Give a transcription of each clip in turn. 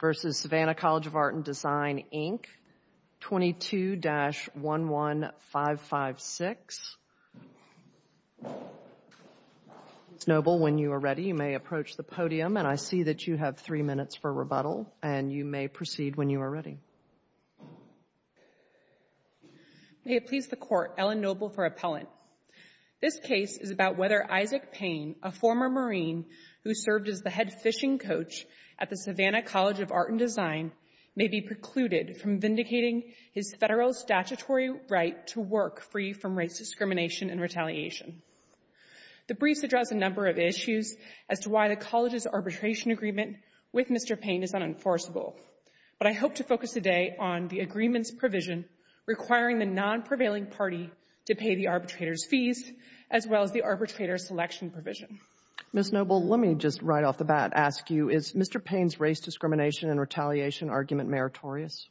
v. Savannah College of Art and Design, Inc. 22-11556. Ms. Noble, when you are ready, you may approach the podium. And I see that you have three minutes for rebuttal, and you may proceed when you are ready. May it please the Court, Ellen Noble for Appellant. This case is about whether Isaac Payne, a former Marine who served as the head fishing coach at the Savannah College of Art and Design, may be precluded from vindicating his federal statutory right to work free from race discrimination and retaliation. The briefs address a number of issues as to why the College's arbitration agreement with Mr. Payne is unenforceable. But I hope to focus today on the agreement's provision requiring the non-prevailing party to pay the arbitrator's Ms. Noble, let me just right off the bat ask you, is Mr. Payne's race discrimination and retaliation argument meritorious?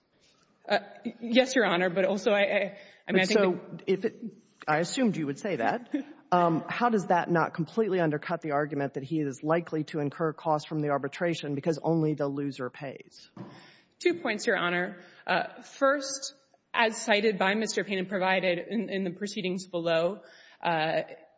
Yes, Your Honor, but also, I mean, I think So if it — I assumed you would say that. How does that not completely undercut the argument that he is likely to incur costs from the arbitration because only the loser pays? Two points, Your Honor. First, as cited by Mr. Payne and provided in the proceedings below,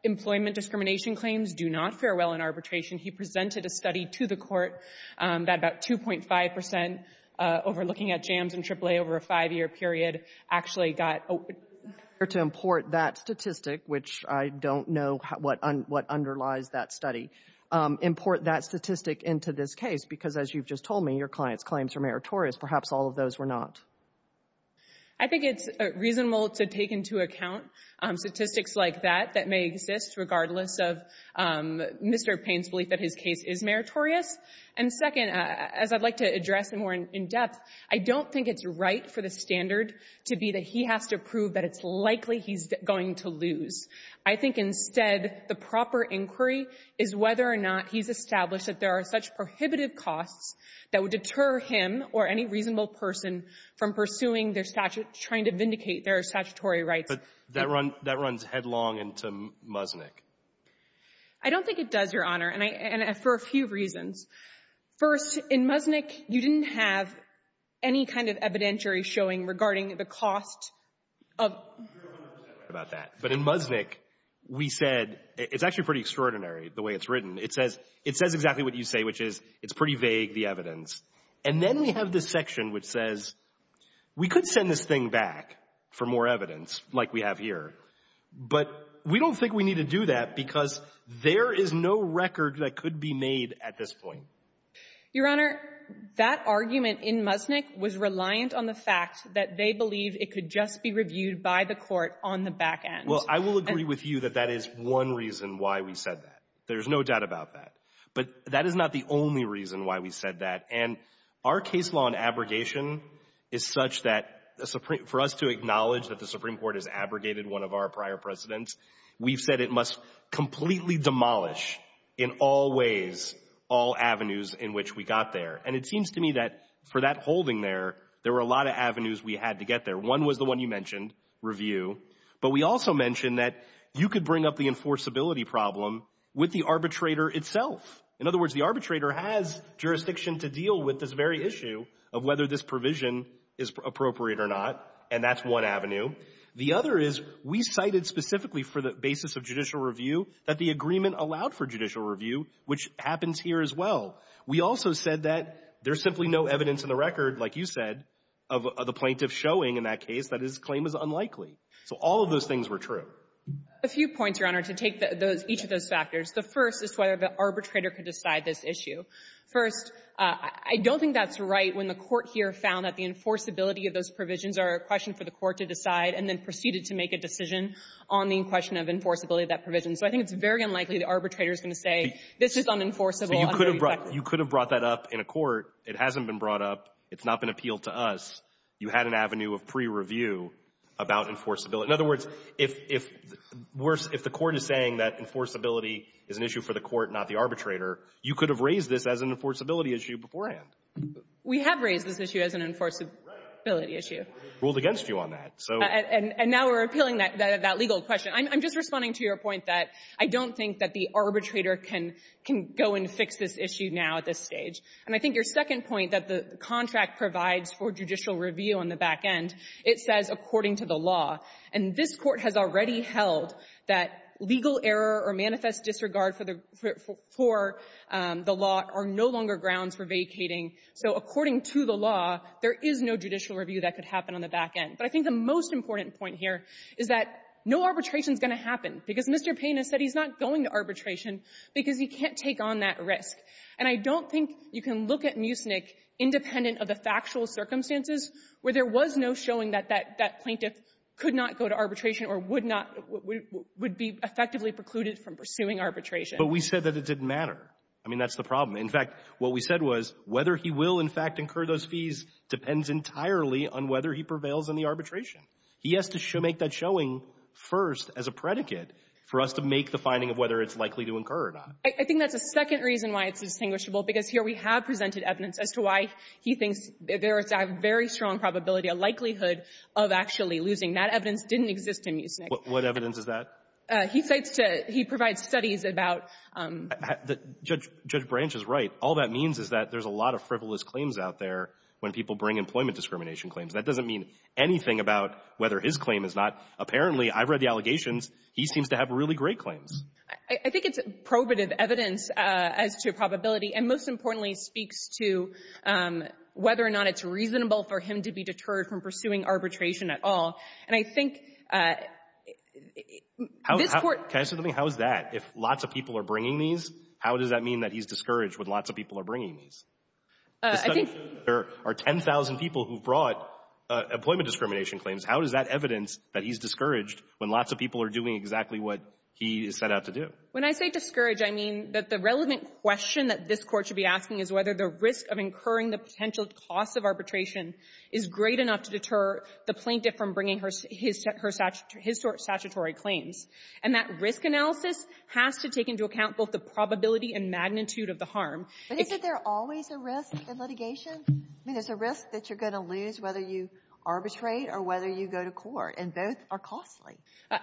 employment discrimination claims do not fare well in arbitration. He presented a study to the court that about 2.5 percent overlooking at jams in AAA over a five-year period actually got — To import that statistic, which I don't know what underlies that study, import that statistic into this case because, as you've just told me, your client's claims are meritorious. Perhaps all of those were not. I think it's reasonable to take into account statistics like that that may exist regardless of Mr. Payne's belief that his case is meritorious. And second, as I'd like to address more in depth, I don't think it's right for the standard to be that he has to prove that it's likely he's going to lose. I think instead the proper inquiry is whether or not he's established that there are such prohibitive costs that would deter him or any reasonable person from pursuing their — trying to vindicate their statutory rights. But that runs headlong into Muznik. I don't think it does, Your Honor, and I — and for a few reasons. First, in Muznik, you didn't have any kind of evidentiary showing regarding the cost of — You're 100 percent right about that. But in Muznik, we said — it's actually pretty extraordinary the way it's written. It says — it says exactly what you say, which is pretty vague, the evidence. And then we have this section which says, we could send this thing back for more evidence like we have here, but we don't think we need to do that because there is no record that could be made at this point. Your Honor, that argument in Muznik was reliant on the fact that they believe it could just be reviewed by the court on the back end. Well, I will agree with you that that is one reason why we said that. There's no doubt about that. But that is not the only reason why we said that. And our case law on abrogation is such that for us to acknowledge that the Supreme Court has abrogated one of our prior precedents, we've said it must completely demolish in all ways all avenues in which we got there. And it seems to me that for that holding there, there were a lot of avenues we had to get there. One was the one you mentioned, review. But we also that you could bring up the enforceability problem with the arbitrator itself. In other words, the arbitrator has jurisdiction to deal with this very issue of whether this provision is appropriate or not, and that's one avenue. The other is we cited specifically for the basis of judicial review that the agreement allowed for judicial review, which happens here as well. We also said that there's simply no evidence in the record, like you said, of the plaintiff showing in that case that his claim was unlikely. So all of those things were true. A few points, Your Honor, to take those — each of those factors. The first is whether the arbitrator could decide this issue. First, I don't think that's right when the court here found that the enforceability of those provisions are a question for the court to decide and then proceeded to make a decision on the question of enforceability of that provision. So I think it's very unlikely the arbitrator is going to say, this is unenforceable. You could have brought that up in a court. It hasn't been brought up. It's not been brought up in a pre-review about enforceability. In other words, if we're — if the court is saying that enforceability is an issue for the court, not the arbitrator, you could have raised this as an enforceability issue beforehand. We have raised this issue as an enforceability issue. Right. We ruled against you on that. And now we're appealing that legal question. I'm just responding to your point that I don't think that the arbitrator can go and fix this issue now at this stage. And I think your second point, that the contract provides for judicial review on the back end, it says, according to the law. And this Court has already held that legal error or manifest disregard for the — for the law are no longer grounds for vacating. So according to the law, there is no judicial review that could happen on the back end. But I think the most important point here is that no arbitration is going to happen. Because Mr. Payne has said he's not going to arbitration because he can't take on that risk. And I don't think you can look at Mucinich independent of the factual circumstances where there was no showing that that plaintiff could not go to arbitration or would not — would be effectively precluded from pursuing arbitration. But we said that it didn't matter. I mean, that's the problem. In fact, what we said was whether he will, in fact, incur those fees depends entirely on whether he prevails in the arbitration. He has to make that showing first as a predicate for us to make the finding of whether it's likely to incur or not. I think that's a second reason why it's distinguishable. Because here we have presented evidence as to why he thinks there is a very strong probability, a likelihood of actually losing. That evidence didn't exist in Mucinich. What evidence is that? He states to — he provides studies about — Judge — Judge Branch is right. All that means is that there's a lot of frivolous claims out there when people bring employment discrimination claims. That doesn't mean anything about whether his claim is not. Apparently, I've read the allegations. He seems to have really great claims. I think it's probative evidence as to probability. And most importantly, it speaks to whether or not it's reasonable for him to be deterred from pursuing arbitration at all. And I think this Court — Can I say something? How is that? If lots of people are bringing these, how does that mean that he's discouraged when lots of people are bringing these? I think — There are 10,000 people who brought employment discrimination claims. How is that evidence that he's discouraged when lots of people are doing exactly what he is set out to do? When I say discouraged, I mean that the relevant question that this Court should be asking is whether the risk of incurring the potential cost of arbitration is great enough to deter the plaintiff from bringing his — his statutory claims. And that risk analysis has to take into account both the probability and magnitude of the harm. But isn't there always a risk in litigation? I mean, there's a risk that you're going to lose whether you arbitrate or whether you go to court. And both are costly.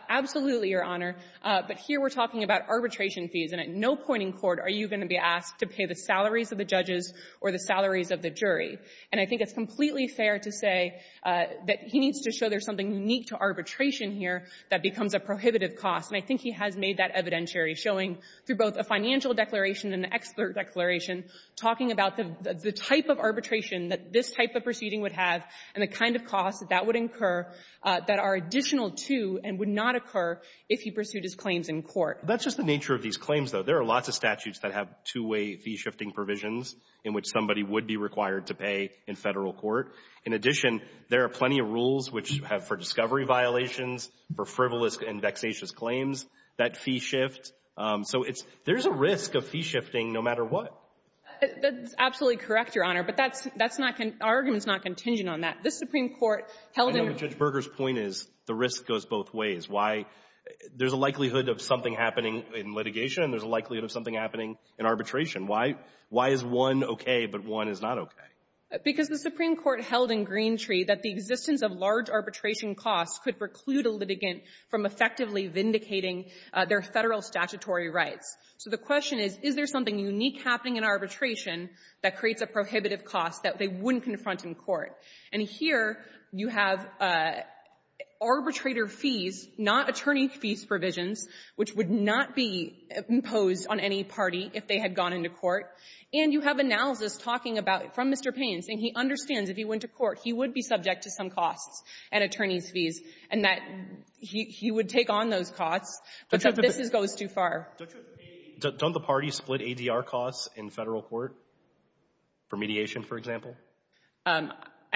Absolutely, Your Honor. But here we're talking about arbitration fees. And at no point in court are you going to be asked to pay the salaries of the judges or the salaries of the jury. And I think it's completely fair to say that he needs to show there's something unique to arbitration here that becomes a prohibitive cost. And I think he has made that evidentiary, showing through both a financial declaration and the expert declaration, talking about the type of arbitration that this type of proceeding would have and the kind of cost that that would incur that are additional to and would not occur if he pursued his claims in court. That's just the nature of these claims, though. There are lots of statutes that have two-way fee-shifting provisions in which somebody would be required to pay in Federal court. In addition, there are plenty of rules which have — for discovery violations, for frivolous and vexatious claims, that fee shift. So it's — there's a risk of fee shifting no matter what. That's absolutely correct, Your Honor. But that's — that's not — our argument is not contingent on that. This Supreme Court held in — I know that Judge Berger's point is the risk goes both ways. Why — there's a likelihood of something happening in litigation, and there's a likelihood of something happening in arbitration. Why — why is one okay, but one is not okay? Because the Supreme Court held in Greentree that the existence of large arbitration costs could preclude a litigant from effectively vindicating their Federal statutory rights. So the question is, is there something unique happening in arbitration that creates a prohibitive cost that they wouldn't confront in court? And here, you have arbitrator fees, not attorney fees provisions, which would not be imposed on any party if they had gone into court. And you have analysis talking about — from Mr. Payne's, and he understands if he went to court, he would be subject to some costs at attorney's fees, and that he — he would take on those costs. But this goes too far. Don't you — don't the parties split ADR costs in Federal court for mediation, for example? I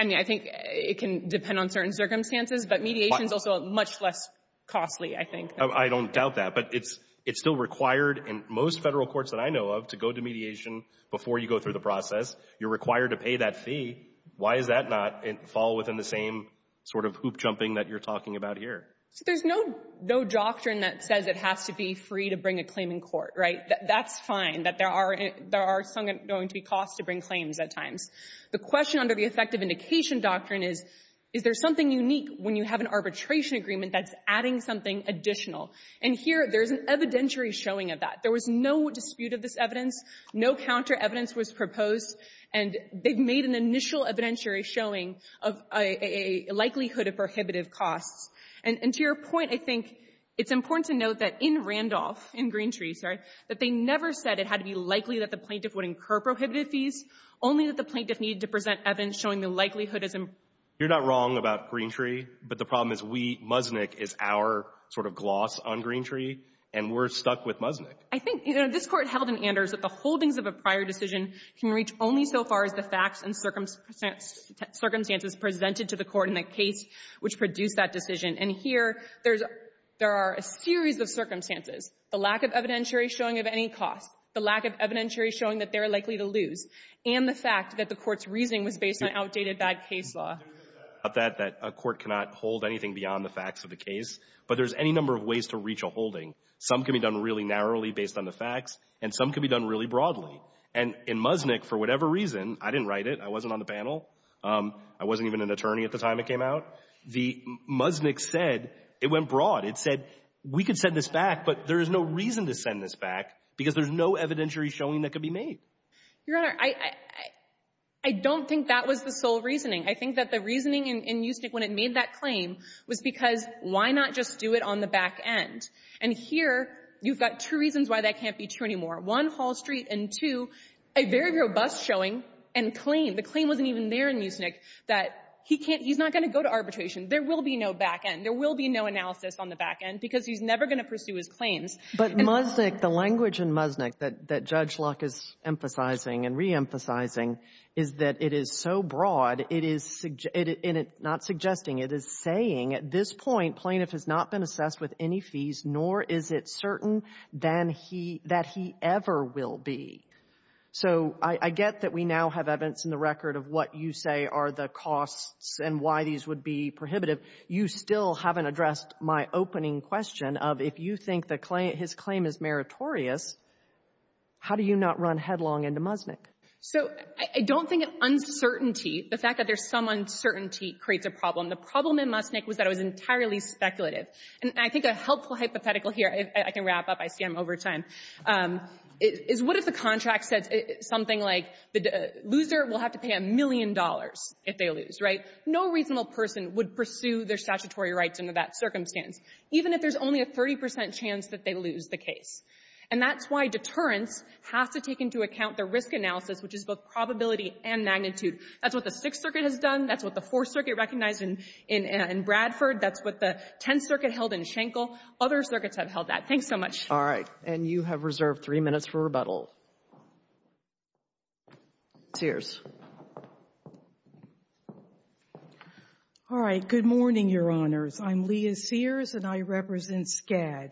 mean, I think it can depend on certain circumstances, but mediation is also much less costly, I think. I don't doubt that. But it's — it's still required in most Federal courts that I know of to go to mediation before you go through the process. You're required to pay that fee. Why does that not fall within the same sort of hoop-jumping that you're talking about here? There's no — no doctrine that says it has to be free to bring a claim in court, right? That's fine, that there are some going to be costs to bring claims at times. The question under the effective indication doctrine is, is there something unique when you have an arbitration agreement that's adding something additional? And here, there's an evidentiary showing of that. There was no dispute of this evidence. No counter-evidence was proposed. And they've made an initial evidentiary showing of a likelihood of prohibitive costs. And to your point, I think it's important to note that in Randolph, in Greentree, sorry, that they never said it had to be likely that the plaintiff would incur prohibitive fees, only that the plaintiff needed to present evidence showing the likelihood as a — You're not wrong about Greentree. But the problem is we — Musnick is our sort of gloss on Greentree. And we're stuck with Musnick. I think — you know, this Court held in Anders that the holdings of a prior decision can reach only so far as the facts and circumstances presented to the Court in the case which produced that decision. And here, there's — there are a series of circumstances. The lack of evidentiary showing of any costs. The lack of evidentiary showing that they're likely to lose. And the fact that the Court's reasoning was based on outdated bad case law. There is a fact that a court cannot hold anything beyond the facts of the case. But there's any number of ways to reach a holding. Some can be done really narrowly based on the facts, and some can be done really broadly. And in Musnick, for whatever reason — I didn't write it. I wasn't on the panel. I wasn't even an attorney at the time it came out. The — Musnick said — it went broad. It said, we could send this back, but there is no reason to send this back because there's no evidentiary showing that could be made. — Your Honor, I — I don't think that was the sole reasoning. I think that the reasoning in — in Musnick when it made that claim was because why not just do it on the back end? And here, you've got two reasons why that can't be true anymore. One, Hall Street. And two, a very robust showing and claim — the claim wasn't even there in Musnick that he can't — he's not going to go to arbitration. There will be no back end. There will be no analysis on the back end because he's never going to pursue his claims. — But Musnick — the language in Musnick that — that Judge Luck is emphasizing and reemphasizing is that it is so broad, it is — and it's not suggesting, it is saying, at this point, plaintiff has not been assessed with any fees, nor is it certain than he — that he ever will be. So I — I get that we now have evidence in the record of what you say are the costs and why these would be prohibitive. You still haven't addressed my opening question of if you think the claim — his claim is meritorious, how do you not run headlong into Musnick? So I don't think uncertainty — the fact that there's some uncertainty creates a problem. The problem in Musnick was that it was entirely speculative. And I think a helpful hypothetical here — I can wrap up. I scam over time — is what if the contract says something like the loser will have to pay a million dollars if they lose, right? No reasonable person would pursue their statutory rights under that circumstance, even if there's only a 30 percent chance that they lose the case. And that's why deterrence has to take into account the risk analysis, which is both probability and magnitude. That's what the Sixth Circuit has done. That's what the Fourth Circuit recognized in — in Bradford. That's what the Tenth Circuit held in Schenkel. Other circuits have held that. Thanks so much. All right. And you have reserved three minutes for rebuttal. Sears. All right. Good morning, Your Honors. I'm Leah Sears, and I represent SCAD.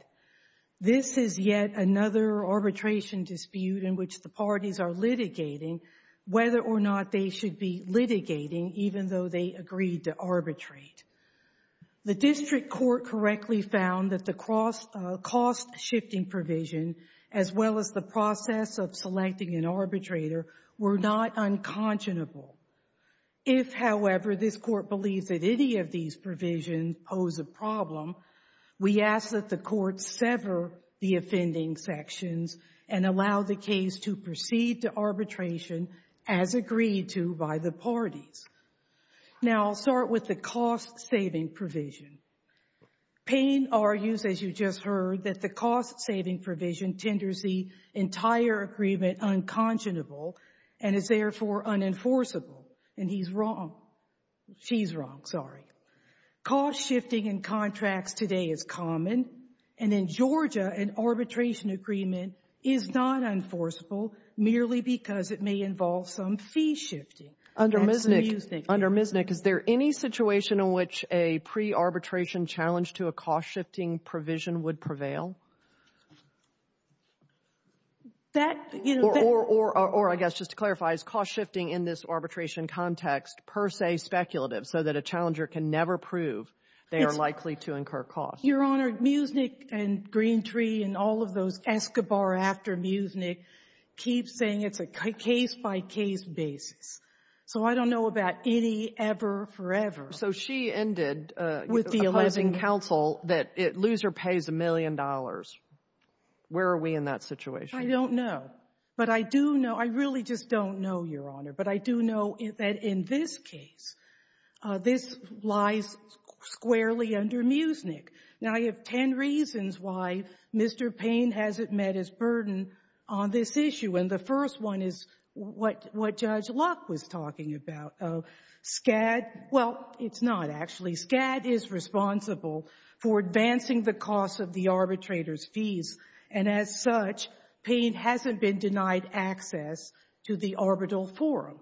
This is yet another arbitration dispute in which the parties are litigating whether or not they should be litigating, even though they agreed to arbitrate. The district court correctly found that the cost-shifting provision, as well as the process of selecting an arbitrator, were not unconscionable. If, however, this Court believes that any of these provisions pose a problem, we ask that the Court sever the offending sections and allow the case to proceed to arbitration as agreed to by the parties. Now, I'll start with the cost-saving provision. Payne argues, as you just heard, that the cost-saving provision tenders the entire agreement unconscionable and is, therefore, unenforceable. And he's wrong. She's wrong. Sorry. Cost-shifting in contracts today is common, and in Georgia, an arbitration agreement is not enforceable merely because it may involve some fee-shifting. Under Misnick, is there any situation in which a pre-arbitration challenge to a cost-shifting provision would prevail? That, you know, that — Or, I guess, just to clarify, is cost-shifting in this arbitration context per se speculative so that a challenger can never prove they are likely to incur costs? Your Honor, Musnick and Greentree and all of those, Escobar after Musnick, keep saying it's a case-by-case basis. So I don't know about any ever, forever — So she ended — With the 11 — Counsel that it — loser pays a million dollars. Where are we in that situation? I don't know. But I do know — I really just don't know, Your Honor. But I do know that in this case, this lies squarely under Musnick. Now, I have 10 reasons why Mr. Payne hasn't met his burden on this issue. And the first one is what — what Judge Locke was talking about. SCAD — well, it's not, actually. SCAD is responsible for advancing the cost of the arbitrator's fees. And as such, Payne hasn't been denied access to the arbitral forum.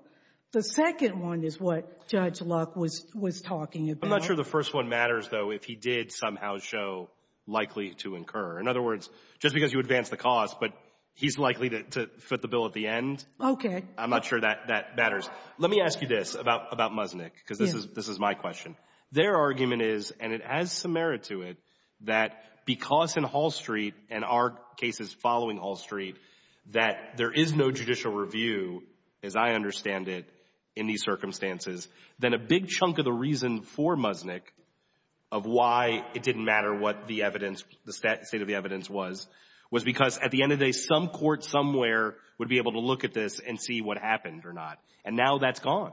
The second one is what Judge Locke was talking about. I'm not sure the first one matters, though, if he did somehow show likely to incur. In other words, just because you advance the cost, but he's likely to foot the bill at the end. Okay. I'm not sure that that matters. Let me ask you this about — about Musnick, because this is — this is my question. Their argument is, and it has some merit to it, that because in Hall Street and our cases following Hall Street, that there is no judicial review, as I understand it, in these circumstances, then a big chunk of the reason for Musnick of why it didn't matter what the evidence — the state of the evidence was, was because at the end of the day, some court somewhere would be able to look at this and see what happened or not. And now that's gone.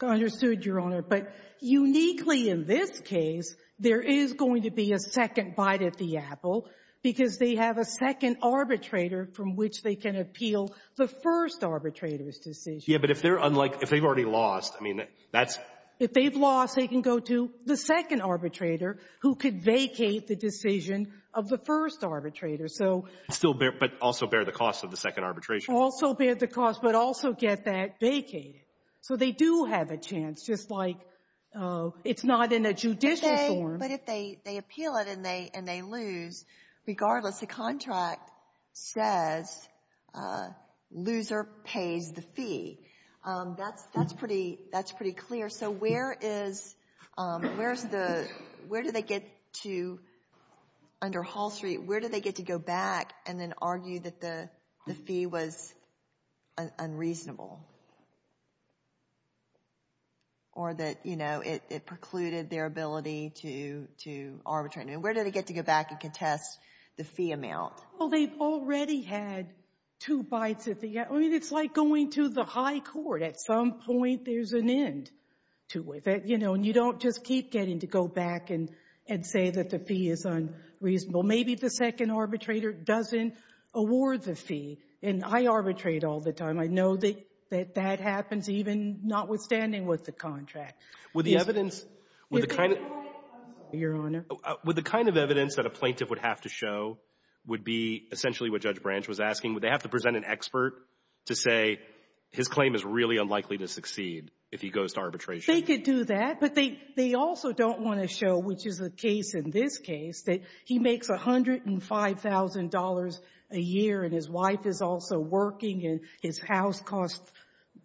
Understood, Your Honor. But uniquely in this case, there is going to be a second bite at the apple, because they have a second arbitrator from which they can appeal the first arbitrator's decision. Yeah. But if they're unlike — if they've already lost, I mean, that's — If they've lost, they can go to the second arbitrator, who could vacate the decision of the first arbitrator. So — Still bear — but also bear the cost of the second arbitration. Also bear the cost, but also get that vacated. So they do have a chance, just like it's not in a judicial form. But if they appeal it and they lose, regardless, the contract says, loser pays the fee. That's pretty — that's pretty clear. So where is — where's the — where do they get to — under Hall Street, where do they get to go back and then argue that the fee was unreasonable? Or that, you know, it precluded their ability to arbitrate? And where do they get to go back and contest the fee amount? Well, they've already had two bites at the — I mean, it's like going to the high court. At some point, there's an end to it. That, you know, and you don't just keep getting to go back and say that the fee is unreasonable. Maybe the second arbitrator doesn't award the fee. And I arbitrate all the time. I know that that happens, even notwithstanding with the contract. Would the evidence — If they — I'm sorry, Your Honor. Would the kind of evidence that a plaintiff would have to show would be essentially what Judge Branch was asking? Would they have to present an expert to say his claim is really unlikely to succeed if he goes to arbitration? They could do that. But they also don't want to show, which is the case in this case, that he makes $105,000 a year, and his wife is also working, and his house cost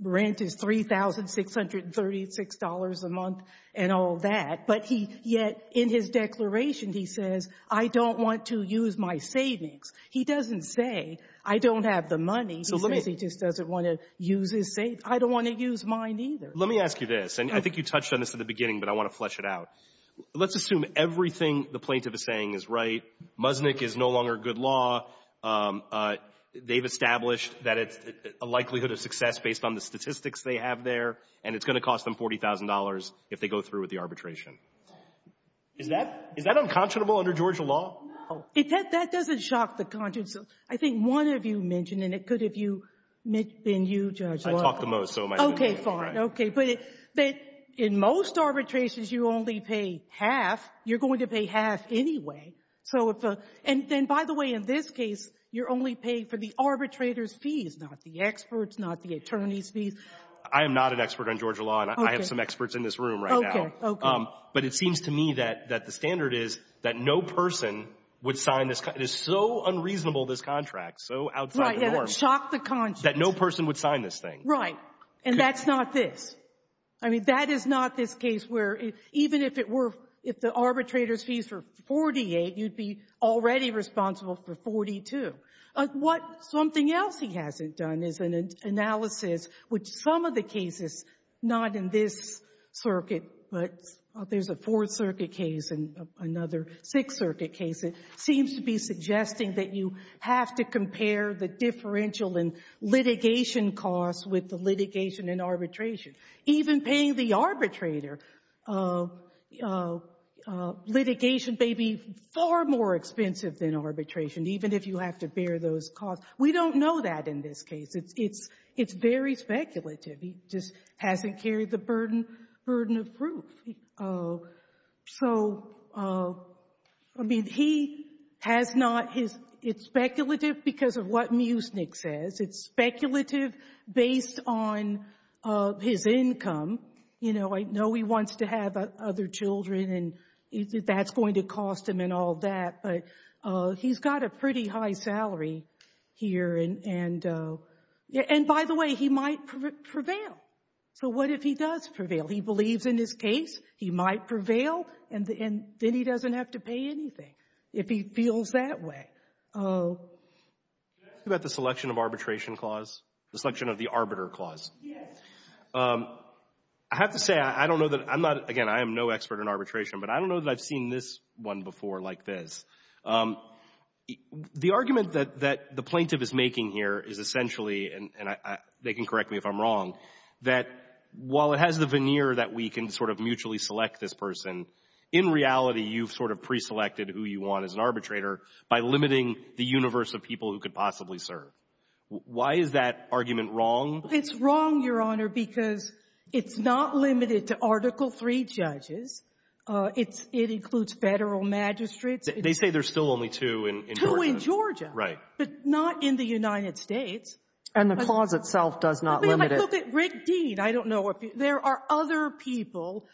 rent is $3,636 a month and all that. But he — yet, in his declaration, he says, I don't want to use my savings. He doesn't say, I don't have the money. He says he just doesn't want to use his savings. I don't want to use mine, either. Let me ask you this. And I think you touched on this at the beginning, but I want to flesh it out. Let's assume everything the plaintiff is saying is right. Muznick is no longer good law. They've established that it's a likelihood of success based on the statistics they have there. And it's going to cost them $40,000 if they go through with the arbitration. Is that — is that unconscionable under Georgia law? No. It — that doesn't shock the conscience. I think one of you mentioned, and it could have been you, Judge Law. I talk the most, so it might have been — Okay, fine. Okay. But in most arbitrations, you only pay half. You're going to pay half anyway. So if — and then, by the way, in this case, you're only paying for the arbitrator's fees, not the expert's, not the attorney's fees. I am not an expert on Georgia law, and I have some experts in this room right now. Okay, okay. But it seems to me that — that the standard is that no person would sign this — it is so unreasonable, this contract, so outside the norm — Right, yeah, that would shock the conscience. — that no person would sign this thing. Right. And that's not this. I mean, that is not this case where — even if it were — if the arbitrator's fees were 48, you'd be already responsible for 42. What — something else he hasn't done is an analysis which some of the cases — not in this circuit, but there's a Fourth Circuit case and another Sixth Circuit case — it seems to be suggesting that you have to compare the differential in litigation costs with the litigation in arbitration. Even paying the arbitrator, litigation may be far more expensive than arbitration, even if you have to bear those costs. We don't know that in this case. It's very speculative. He just hasn't carried the burden of proof. So, I mean, he has not his — it's speculative because of what Mucinich says. It's speculative based on his income. You know, I know he wants to have other children, and that's going to cost him and all that, but he's got a pretty high salary here, and — and, by the way, he might prevail. So what if he does prevail? He believes in his case, he might prevail, and then he doesn't have to pay anything if he feels that way. Oh. Can I ask you about the selection of arbitration clause? The selection of the arbiter clause? Yes. I have to say, I don't know that — I'm not — again, I am no expert in arbitration, but I don't know that I've seen this one before like this. The argument that — that the plaintiff is making here is essentially — and I — they can correct me if I'm wrong — that while it has the veneer that we can sort of mutually select this person, in reality, you've sort of preselected who you want as an arbitrator by limiting the universe of people who could possibly serve. Why is that argument wrong? It's wrong, Your Honor, because it's not limited to Article III judges. It's — it includes federal magistrates. They say there's still only two in Georgia. Two in Georgia. Right. But not in the United States. And the clause itself does not limit it. I mean, like, look at Rick Dean. I don't know if — there are other people,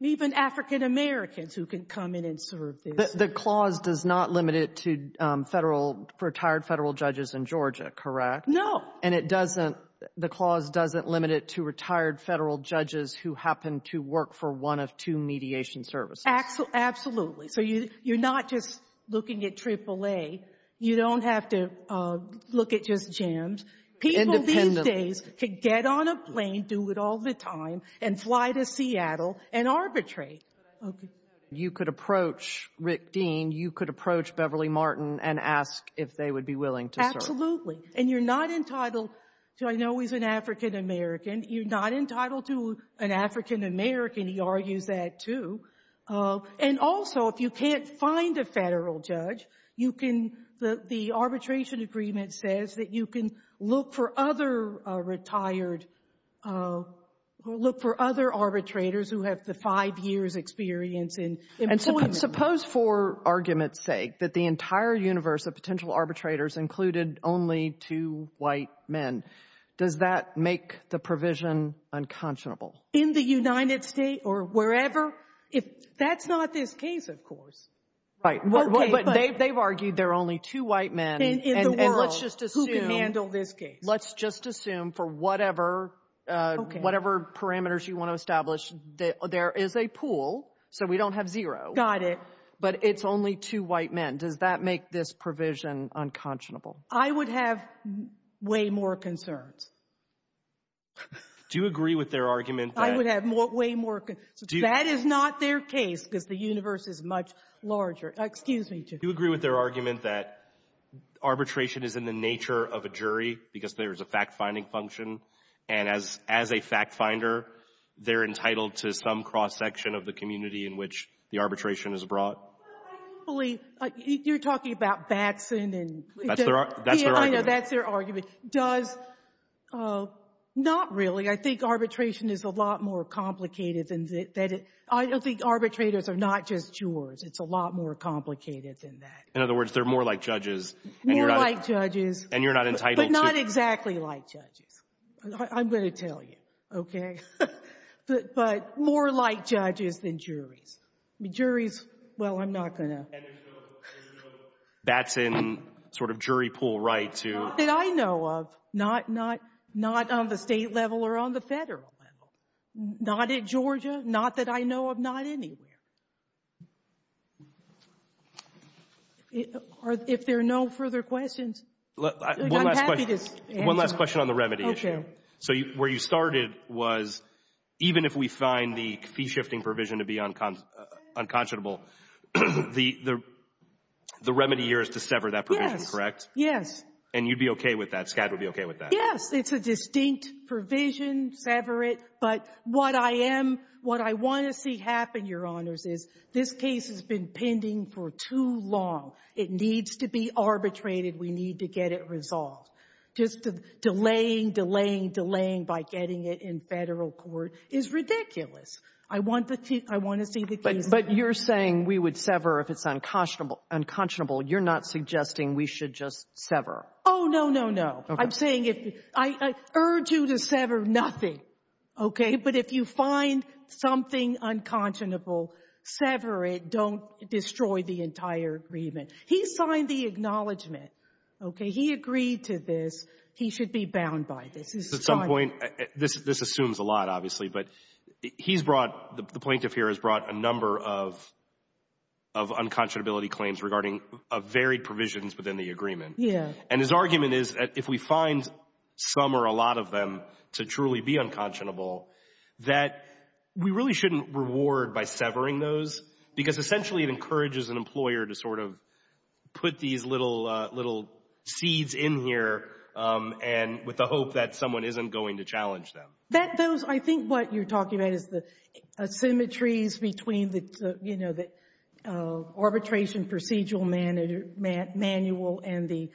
even African Americans, who can come in and serve this. The clause does not limit it to federal — retired federal judges in Georgia, correct? No. And it doesn't — the clause doesn't limit it to retired federal judges who happen to work for one of two mediation services? Absolutely. So you're not just looking at AAA. You don't have to look at just jams. People these days could get on a plane, do it all the time, and fly to Seattle and arbitrate. Okay. You could approach Rick Dean. You could approach Beverly Martin and ask if they would be willing to serve. Absolutely. And you're not entitled to — I know he's an African American. You're not entitled to an African American. He argues that, too. And also, if you can't find a federal judge, you can — the arbitration agreement says that you can look for other retired — look for other arbitrators who have the five years experience in employment. And suppose, for argument's sake, that the entire universe of potential arbitrators included only two white men. Does that make the provision unconscionable? In the United States or wherever? If — that's not this case, of course. Right. Okay. But they've argued there are only two white men. In the world. And let's just assume — Who can handle this case. Let's just assume, for whatever — Okay. Whatever parameters you want to establish, there is a pool. So we don't have zero. Got it. But it's only two white men. Does that make this provision unconscionable? I would have way more concerns. Do you agree with their argument that — I would have way more — that is not their case, because the universe is much larger. Excuse me. Do you agree with their argument that arbitration is in the nature of a jury, because there is a fact-finding function? And as a fact-finder, they're entitled to some cross-section of the community in which the arbitration is brought? Well, I do believe — you're talking about Batson and — That's their argument. That's their argument. Does — not really. I think arbitration is a lot more complicated than that. I don't think arbitrators are not just jurors. It's a lot more complicated than that. In other words, they're more like judges. More like judges. And you're not entitled to — But not exactly like judges. I'm going to tell you, okay? But more like judges than juries. I mean, juries — well, I'm not going to — And there's no Batson sort of jury pool right to — Not that I know of. Not on the state level or on the federal level. Not at Georgia. Not that I know of. Not anywhere. If there are no further questions — I'm happy to answer. One last question on the remedy issue. So where you started was even if we find the fee-shifting provision to be unconscionable, the remedy here is to sever that provision, correct? Yes. And you'd be okay with that? SCAD would be okay with that? Yes. It's a distinct provision. Sever it. But what I am — what I want to see happen, Your Honors, is this case has been pending for too long. It needs to be arbitrated. We need to get it resolved. Just delaying, delaying, delaying by getting it in federal court is ridiculous. I want to see the case — But you're saying we would sever if it's unconscionable. You're not suggesting we should just sever. Oh, no, no, no. I'm saying if — I urge you to sever nothing, okay? But if you find something unconscionable, sever it. Don't destroy the entire agreement. He signed the acknowledgment, okay? He agreed to this. He should be bound by this. At some point — this assumes a lot, obviously, but he's brought — the plaintiff here has brought a number of unconscionability claims regarding varied provisions within the agreement. Yeah. And his argument is that if we find some or a lot of them to truly be unconscionable, that we really shouldn't reward by severing those because essentially it encourages an employer to sort of put these little — little seeds in here and — with the hope that someone isn't going to challenge them. That — those — I think what you're talking about is the symmetries between the — you know, the arbitration procedural manual and the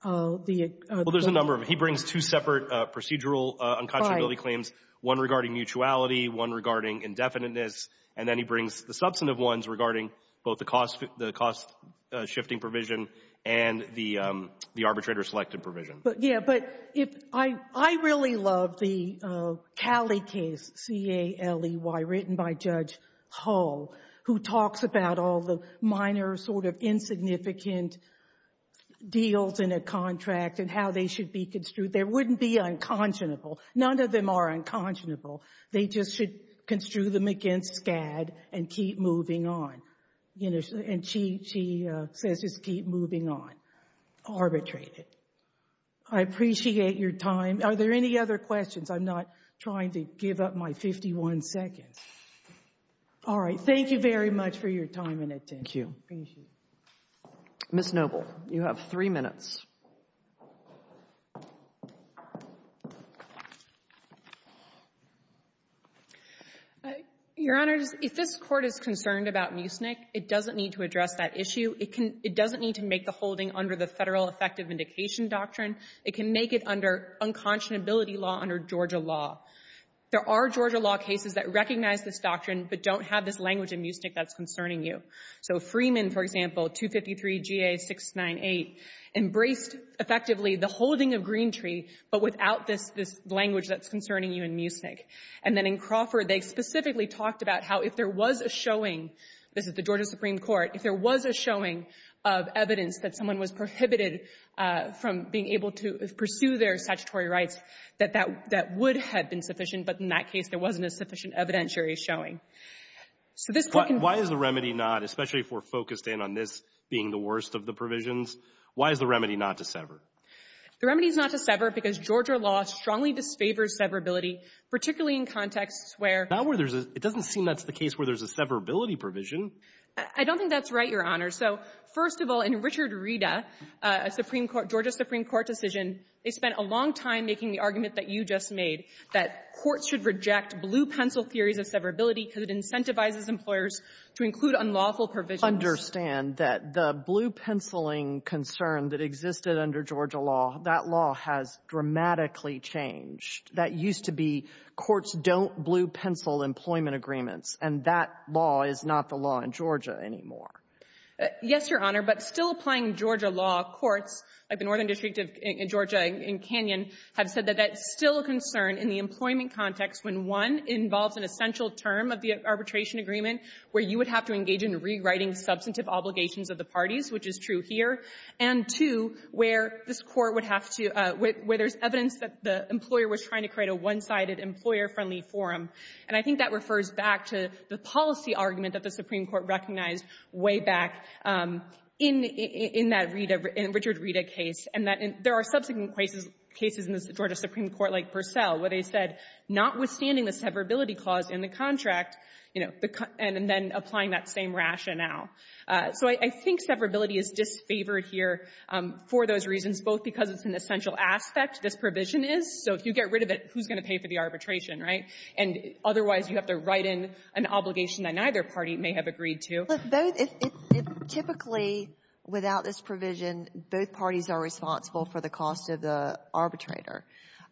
— Well, there's a number of them. He brings two separate procedural unconscionability claims, one regarding mutuality, one regarding indefiniteness, and then he brings the substantive ones regarding both the cost — the cost-shifting provision and the arbitrator-selected provision. But, yeah, but if — I really love the Caley case, C-A-L-E-Y, written by Judge Hull, who talks about all the minor, sort of insignificant deals in a contract and how they should be construed. They wouldn't be unconscionable. None of them are unconscionable. They just should construe them against SCAD and keep moving on. You know, and she — she says just keep moving on. Arbitrate it. I appreciate your time. Are there any other questions? I'm not trying to give up my 51 seconds. All right. Thank you very much for your time and attention. Thank you. Appreciate it. Ms. Noble, you have three minutes. Your Honors, if this Court is concerned about mucinic, it doesn't need to address that issue. It can — it doesn't need to make the holding under the Federal Effective Vindication Doctrine. It can make it under unconscionability law, under Georgia law. There are Georgia law cases that recognize this doctrine but don't have this language in mucinic that's concerning you. So Freeman, for example, 253 G.A. 698, embraces the notion that the statute of limitations effectively the holding of green tree but without this language that's concerning you in mucinic. And then in Crawford, they specifically talked about how if there was a showing — this is the Georgia Supreme Court — if there was a showing of evidence that someone was prohibited from being able to pursue their statutory rights, that that would have been sufficient. But in that case, there wasn't a sufficient evidentiary showing. So this — Why is the remedy not, especially if we're focused in on this being the worst of the provisions? Why is the remedy not to sever? The remedy is not to sever because Georgia law strongly disfavors severability, particularly in contexts where — Not where there's a — it doesn't seem that's the case where there's a severability provision. I don't think that's right, Your Honor. So, first of all, in Richard Rita, a Supreme Court — Georgia Supreme Court decision, they spent a long time making the argument that you just made, that courts should reject blue-pencil theories of severability because it incentivizes employers to include unlawful provisions. I understand that the blue-penciling concern that existed under Georgia law, that law has dramatically changed. That used to be courts don't blue-pencil employment agreements. And that law is not the law in Georgia anymore. Yes, Your Honor. But still applying Georgia law, courts of the Northern District of Georgia and Canyon have said that that's still a concern in the employment context when, one, it involves an essential term of the arbitration agreement where you would have to engage in rewriting substantive obligations of the parties, which is true here, and, two, where this Court would have to — where there's evidence that the employer was trying to create a one-sided, employer-friendly forum. And I think that refers back to the policy argument that the Supreme Court recognized way back in that Rita — in Richard Rita case, and that there are subsequent cases in the Georgia Supreme Court, like Purcell, where they said, notwithstanding the severability clause in the contract, you know, and then applying that same rationale. So I think severability is disfavored here for those reasons, both because it's an essential aspect, this provision is. So if you get rid of it, who's going to pay for the arbitration, right? And otherwise, you have to write in an obligation that neither party may have agreed to. Look, both — typically, without this provision, both parties are responsible for the cost of the arbitrator.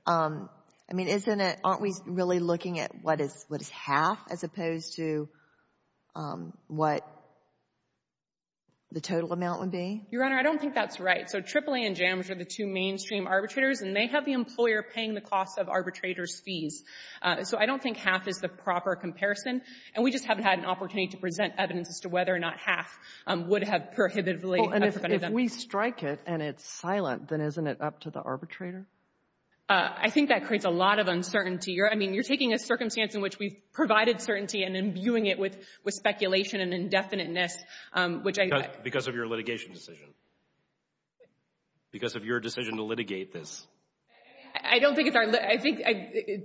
I mean, isn't it — aren't we really looking at what is — what is half as opposed to what the total amount would be? Your Honor, I don't think that's right. So AAA and JAMS are the two mainstream arbitrators, and they have the employer paying the cost of arbitrators' fees. So I don't think half is the proper comparison, and we just haven't had an opportunity to do that. And if we strike it and it's silent, then isn't it up to the arbitrator? I think that creates a lot of uncertainty. I mean, you're taking a circumstance in which we've provided certainty and imbuing it with speculation and indefiniteness, which I — Because of your litigation decision. Because of your decision to litigate this. I don't think it's our — I think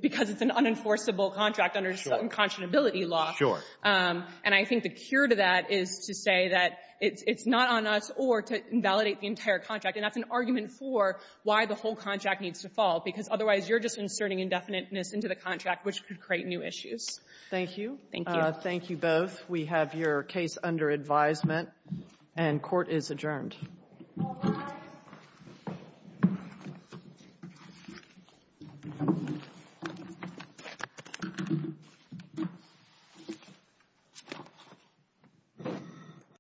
because it's an unenforceable contract under some —— unconscionability law. Sure. And I think the cure to that is to say that it's not on us or to invalidate the entire contract. And that's an argument for why the whole contract needs to fall, because otherwise you're just inserting indefiniteness into the contract, which could create new issues. Thank you. Thank you. Thank you both. We have your case under advisement, and court is adjourned. Thank you.